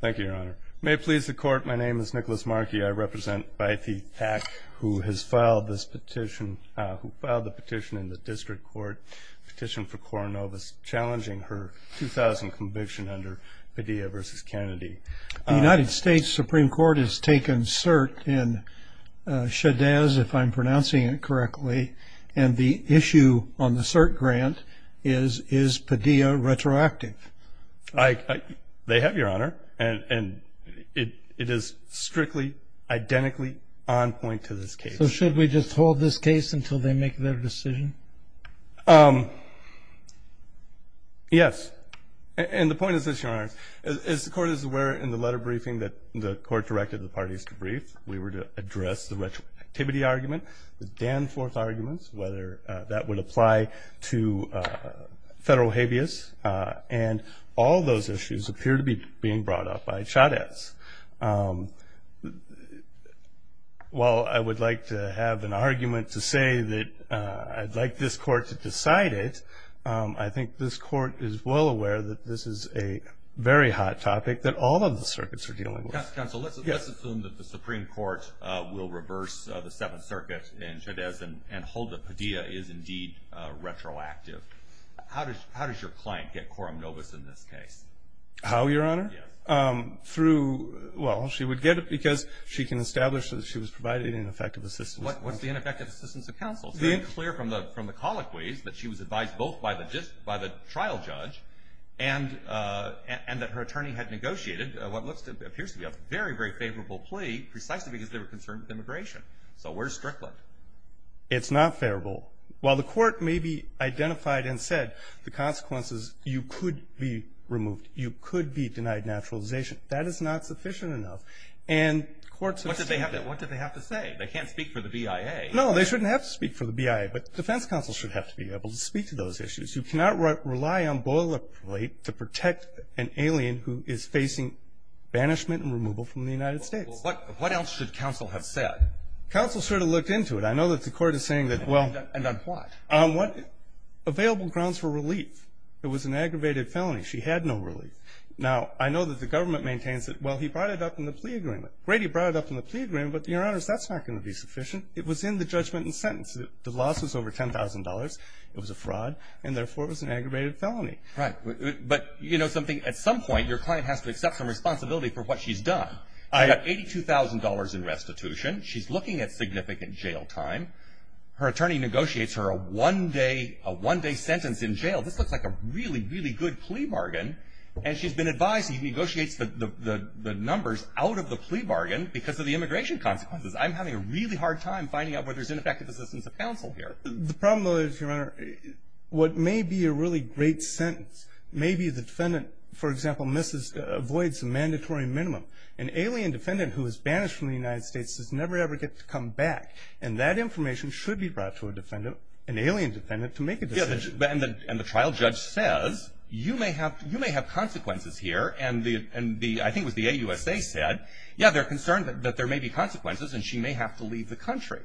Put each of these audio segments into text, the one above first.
Thank you, Your Honor. May it please the Court, my name is Nicholas Markey. I represent Vy Thach, who has filed this petition, who filed the petition in the District Court, petition for Koronovus, challenging her 2000 conviction under Padilla v. Kennedy. The United States Supreme Court has taken cert in Shedaz, if I'm pronouncing it correctly, and the issue on the cert grant is, is Padilla retroactive? They have, Your Honor, and it is strictly, identically on point to this case. So should we just hold this case until they make their decision? Yes. And the point is this, Your Honor. As the Court is aware, in the letter briefing that the Court directed the parties to brief, we were to address the retroactivity argument, the Danforth argument, whether that would apply to federal habeas, and all those issues appear to be being brought up by Shedaz. While I would like to have an argument to say that I'd like this Court to decide it, I think this Court is well aware that this is a very hot topic that all of the circuits are dealing with. Counsel, let's assume that the Supreme Court will reverse the Seventh Circuit in Shedaz and hold that Padilla is indeed retroactive. How does your client get Koronovus in this case? How, Your Honor? Yes. Through, well, she would get it because she can establish that she was provided ineffective assistance. What's the ineffective assistance of counsel? It's very clear from the colloquies that she was advised both by the trial judge and that her attorney had negotiated what appears to be a very, very favorable plea precisely because they were concerned with immigration. So where's Strickland? It's not favorable. While the Court may be identified and said the consequences, you could be removed. You could be denied naturalization. That is not sufficient enough. What did they have to say? They can't speak for the BIA. No, they shouldn't have to speak for the BIA, but defense counsel should have to be able to speak to those issues. You cannot rely on boilerplate to protect an alien who is facing banishment and removal from the United States. Well, what else should counsel have said? Counsel sort of looked into it. I know that the Court is saying that, well. And on what? On what? Available grounds for relief. It was an aggravated felony. She had no relief. Now, I know that the government maintains that, well, he brought it up in the plea agreement. Great, he brought it up in the plea agreement, but, Your Honors, that's not going to be sufficient. It was in the judgment and sentence. The loss was over $10,000. It was a fraud, and, therefore, it was an aggravated felony. Right. But you know something? At some point, your client has to accept some responsibility for what she's done. I have $82,000 in restitution. She's looking at significant jail time. Her attorney negotiates her a one-day sentence in jail. This looks like a really, really good plea bargain. And she's been advised she negotiates the numbers out of the plea bargain because of the immigration consequences. I'm having a really hard time finding out whether there's ineffective assistance of counsel here. The problem, though, is, Your Honor, what may be a really great sentence, maybe the defendant, for example, avoids a mandatory minimum. An alien defendant who is banished from the United States does never, ever get to come back, and that information should be brought to an alien defendant to make a decision. And the trial judge says, you may have consequences here, and I think it was the AUSA said, yeah, they're concerned that there may be consequences and she may have to leave the country.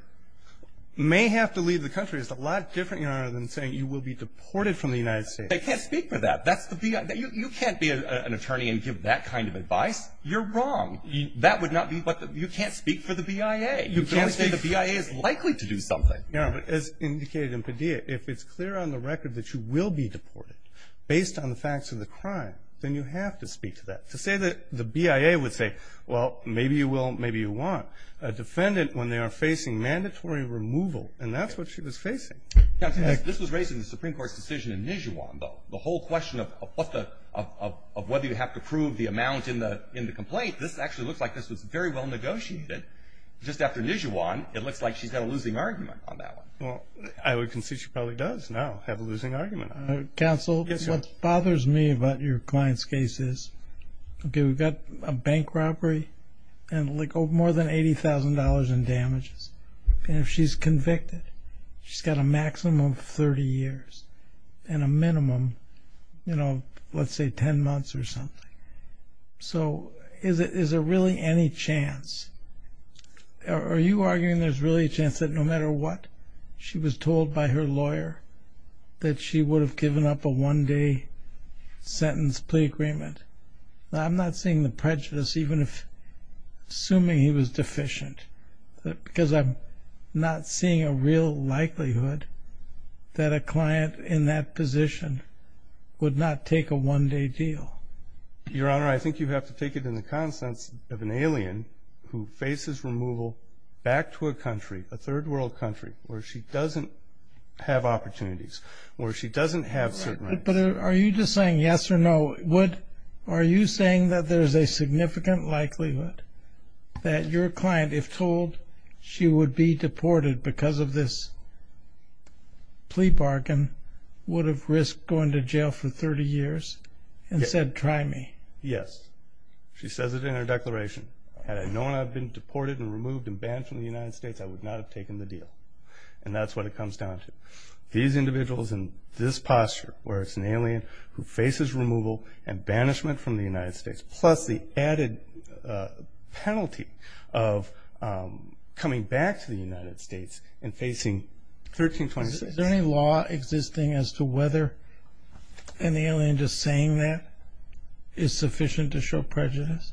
May have to leave the country is a lot different, Your Honor, than saying you will be deported from the United States. They can't speak for that. That's the BIA. You can't be an attorney and give that kind of advice. You're wrong. That would not be what the – you can't speak for the BIA. You can only say the BIA is likely to do something. Yeah, but as indicated in Padilla, if it's clear on the record that you will be deported based on the facts of the crime, then you have to speak to that. To say that the BIA would say, well, maybe you will, maybe you won't. A defendant, when they are facing mandatory removal, and that's what she was facing. Counsel, this was raised in the Supreme Court's decision in Nijuan, the whole question of whether you have to prove the amount in the complaint, this actually looks like this was very well negotiated. Just after Nijuan, it looks like she's got a losing argument on that one. Well, I would concede she probably does now have a losing argument. Counsel, what bothers me about your client's case is, okay, we've got a bank robbery and more than $80,000 in damages. And if she's convicted, she's got a maximum of 30 years and a minimum, you know, let's say 10 months or something. So is there really any chance – are you arguing there's really a chance that no matter what she was told by her lawyer, that she would have given up a one-day sentence plea agreement? Now, I'm not seeing the prejudice, even if – assuming he was deficient. Because I'm not seeing a real likelihood that a client in that position would not take a one-day deal. Your Honor, I think you have to take it in the context of an alien who faces removal back to a country, a third-world country, where she doesn't have opportunities, where she doesn't have certain – But are you just saying yes or no? Are you saying that there's a significant likelihood that your client, if told she would be deported because of this plea bargain, would have risked going to jail for 30 years and said, try me? Yes. She says it in her declaration. Had I known I'd been deported and removed and banned from the United States, I would not have taken the deal. And that's what it comes down to. These individuals in this posture, where it's an alien who faces removal and banishment from the United States, plus the added penalty of coming back to the United States and facing 1326 – Is there any law existing as to whether an alien just saying that is sufficient to show prejudice?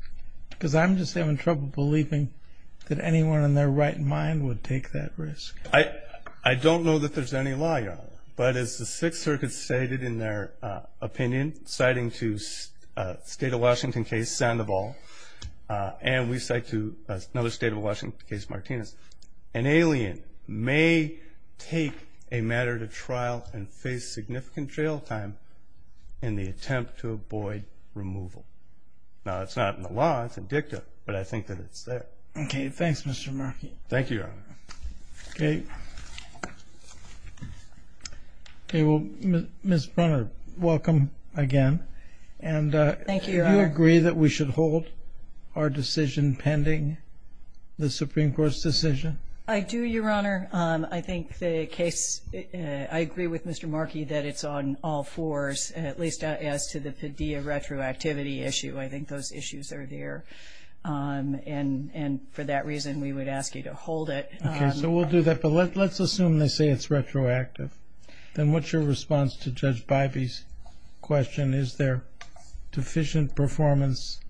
Because I'm just having trouble believing that anyone in their right mind would take that risk. I don't know that there's any law, Your Honor. But as the Sixth Circuit stated in their opinion, citing to State of Washington case Sandoval and we cite to another State of Washington case, Martinez, an alien may take a matter to trial and face significant jail time in the attempt to avoid removal. Now, it's not in the law. It's indicative. But I think that it's there. Okay. Thanks, Mr. Markey. Thank you, Your Honor. Okay. Well, Ms. Brunner, welcome again. Thank you, Your Honor. And do you agree that we should hold our decision pending the Supreme Court's decision? I do, Your Honor. I think the case – I agree with Mr. Markey that it's on all fours, at least as to the Padilla retroactivity issue. I think those issues are there. And for that reason, we would ask you to hold it. Okay. So we'll do that. But let's assume they say it's retroactive. Then what's your response to Judge Bivey's question, is there deficient performance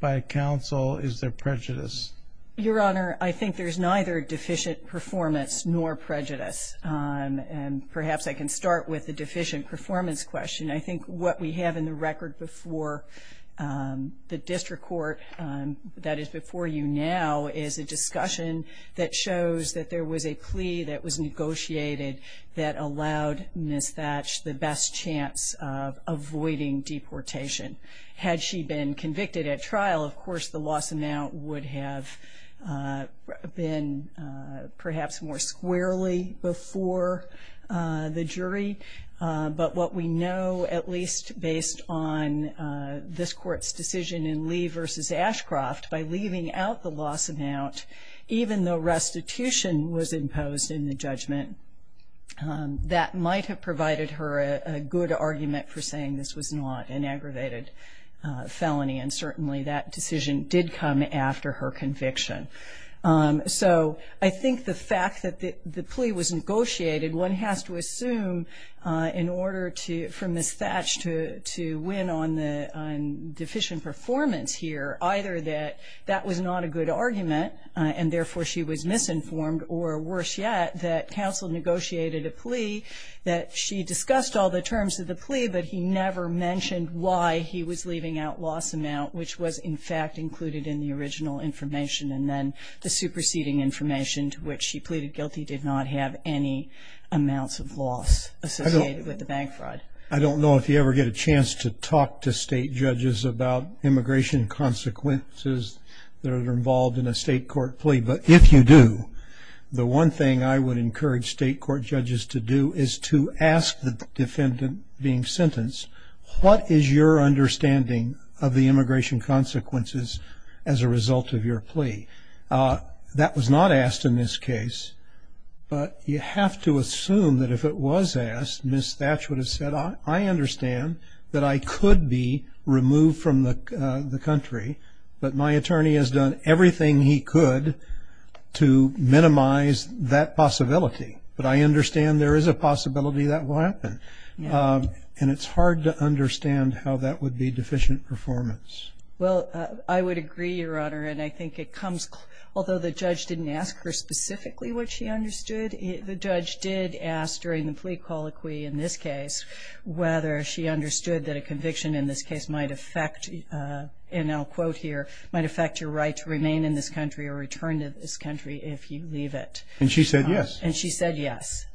by counsel, is there prejudice? Your Honor, I think there's neither deficient performance nor prejudice. And perhaps I can start with the deficient performance question. I think what we have in the record before the district court that is before you now is a discussion that shows that there was a plea that was negotiated that allowed Ms. Thatch the best chance of avoiding deportation. The loss amount would have been perhaps more squarely before the jury. But what we know, at least based on this Court's decision in Lee v. Ashcroft, by leaving out the loss amount, even though restitution was imposed in the judgment, that might have provided her a good argument for saying this was not an aggravated felony. And certainly that decision did come after her conviction. So I think the fact that the plea was negotiated, one has to assume in order for Ms. Thatch to win on deficient performance here, either that that was not a good argument and therefore she was misinformed, or worse yet, that counsel negotiated a plea, but he never mentioned why he was leaving out loss amount, which was in fact included in the original information. And then the superseding information to which she pleaded guilty did not have any amounts of loss associated with the bank fraud. I don't know if you ever get a chance to talk to state judges about immigration consequences that are involved in a state court plea. But if you do, the one thing I would encourage state court judges to do is to ask the defendant being sentenced, what is your understanding of the immigration consequences as a result of your plea? That was not asked in this case, but you have to assume that if it was asked, Ms. Thatch would have said, I understand that I could be removed from the country, but my attorney has done everything he could to minimize that possibility. But I understand there is a possibility that will happen. And it's hard to understand how that would be deficient performance. Well, I would agree, Your Honor. And I think it comes, although the judge didn't ask her specifically what she understood, the judge did ask during the plea colloquy in this case whether she understood that a conviction in this case might affect, and I'll quote here, might affect your right to remain in this country or return to this country if you leave it. And she said yes. And she said yes.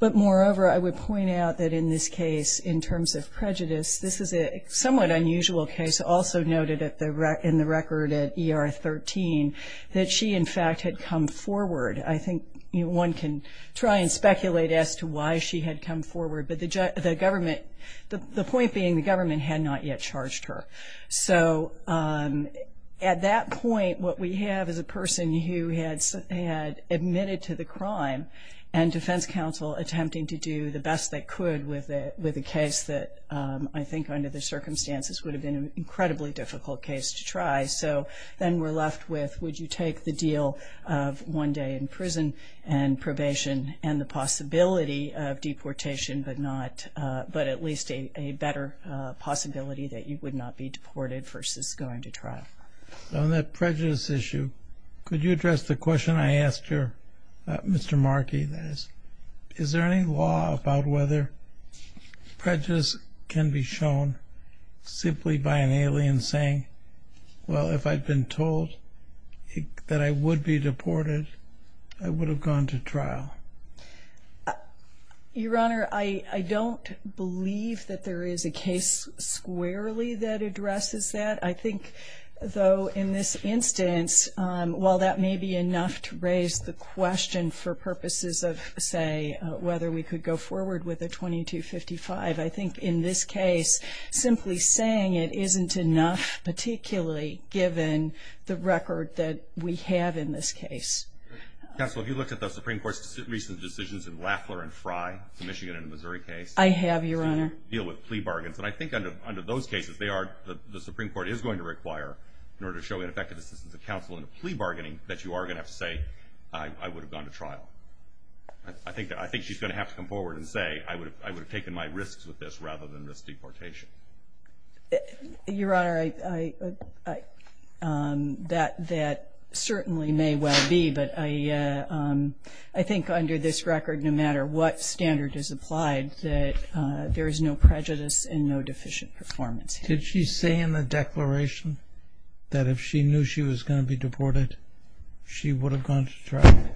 But moreover, I would point out that in this case, in terms of prejudice, this is a somewhat unusual case, also noted in the record at ER 13, that she, in fact, had come forward. I think one can try and speculate as to why she had come forward, but the government, the point being the government had not yet charged her. So at that point, what we have is a person who had admitted to the crime and defense counsel attempting to do the best they could with a case that I think, under the circumstances, would have been an incredibly difficult case to try. So then we're left with would you take the deal of one day in prison and probation and the possibility of deportation but not at least a better possibility that you would not be deported versus going to trial. On that prejudice issue, could you address the question I asked here, Mr. Markey? Is there any law about whether prejudice can be shown simply by an alien saying, well, if I'd been told that I would be deported, I would have gone to trial? Your Honor, I don't believe that there is a case squarely that addresses that. I think, though, in this instance, while that may be enough to raise the question for purposes of, say, whether we could go forward with a 2255, I think in this case simply saying it isn't enough, particularly given the record that we have in this case. Counsel, have you looked at the Supreme Court's recent decisions in Lafler and Fry, the Michigan and Missouri case? I have, Your Honor. To deal with plea bargains. And I think under those cases, the Supreme Court is going to require, in order to show ineffective assistance of counsel in a plea bargaining, that you are going to have to say, I would have gone to trial. I think she's going to have to come forward and say, I would have taken my risks with this rather than risk deportation. Your Honor, that certainly may well be. But I think under this record, no matter what standard is applied, that there is no prejudice and no deficient performance. Did she say in the declaration that if she knew she was going to be deported, she would have gone to trial?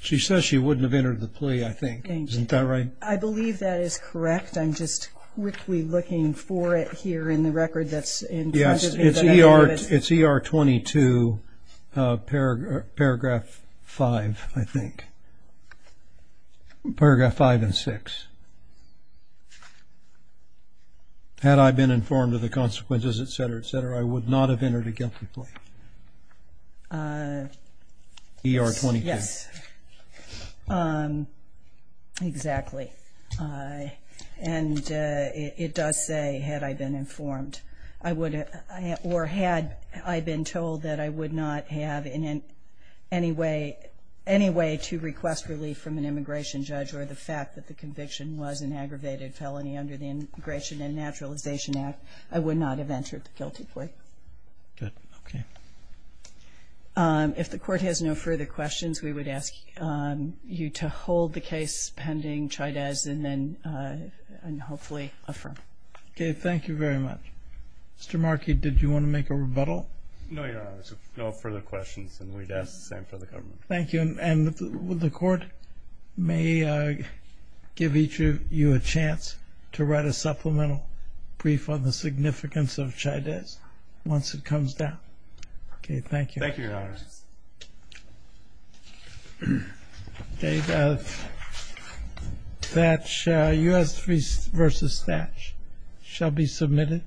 She says she wouldn't have entered the plea, I think. Isn't that right? I believe that is correct. I'm just quickly looking for it here in the record that's in front of me. Yes, it's ER 22, paragraph 5, I think. Paragraph 5 and 6. Had I been informed of the consequences, et cetera, et cetera, I would not have entered a guilty plea. ER 22. Yes. Exactly. And it does say, had I been informed, or had I been told that I would not have any way to request relief from an immigration judge or the fact that the conviction was an aggravated felony under the Immigration and Naturalization Act, I would not have entered the guilty plea. Good. Okay. If the Court has no further questions, we would ask you to hold the case pending Chydez and then hopefully affirm. Okay. Thank you very much. Mr. Markey, did you want to make a rebuttal? No, Your Honor. No further questions, and we'd ask the same for the government. Thank you. And the Court may give each of you a chance to write a supplemental brief on the Thank you. Thank you, Your Honor. That U.S. v. Stash shall be submitted.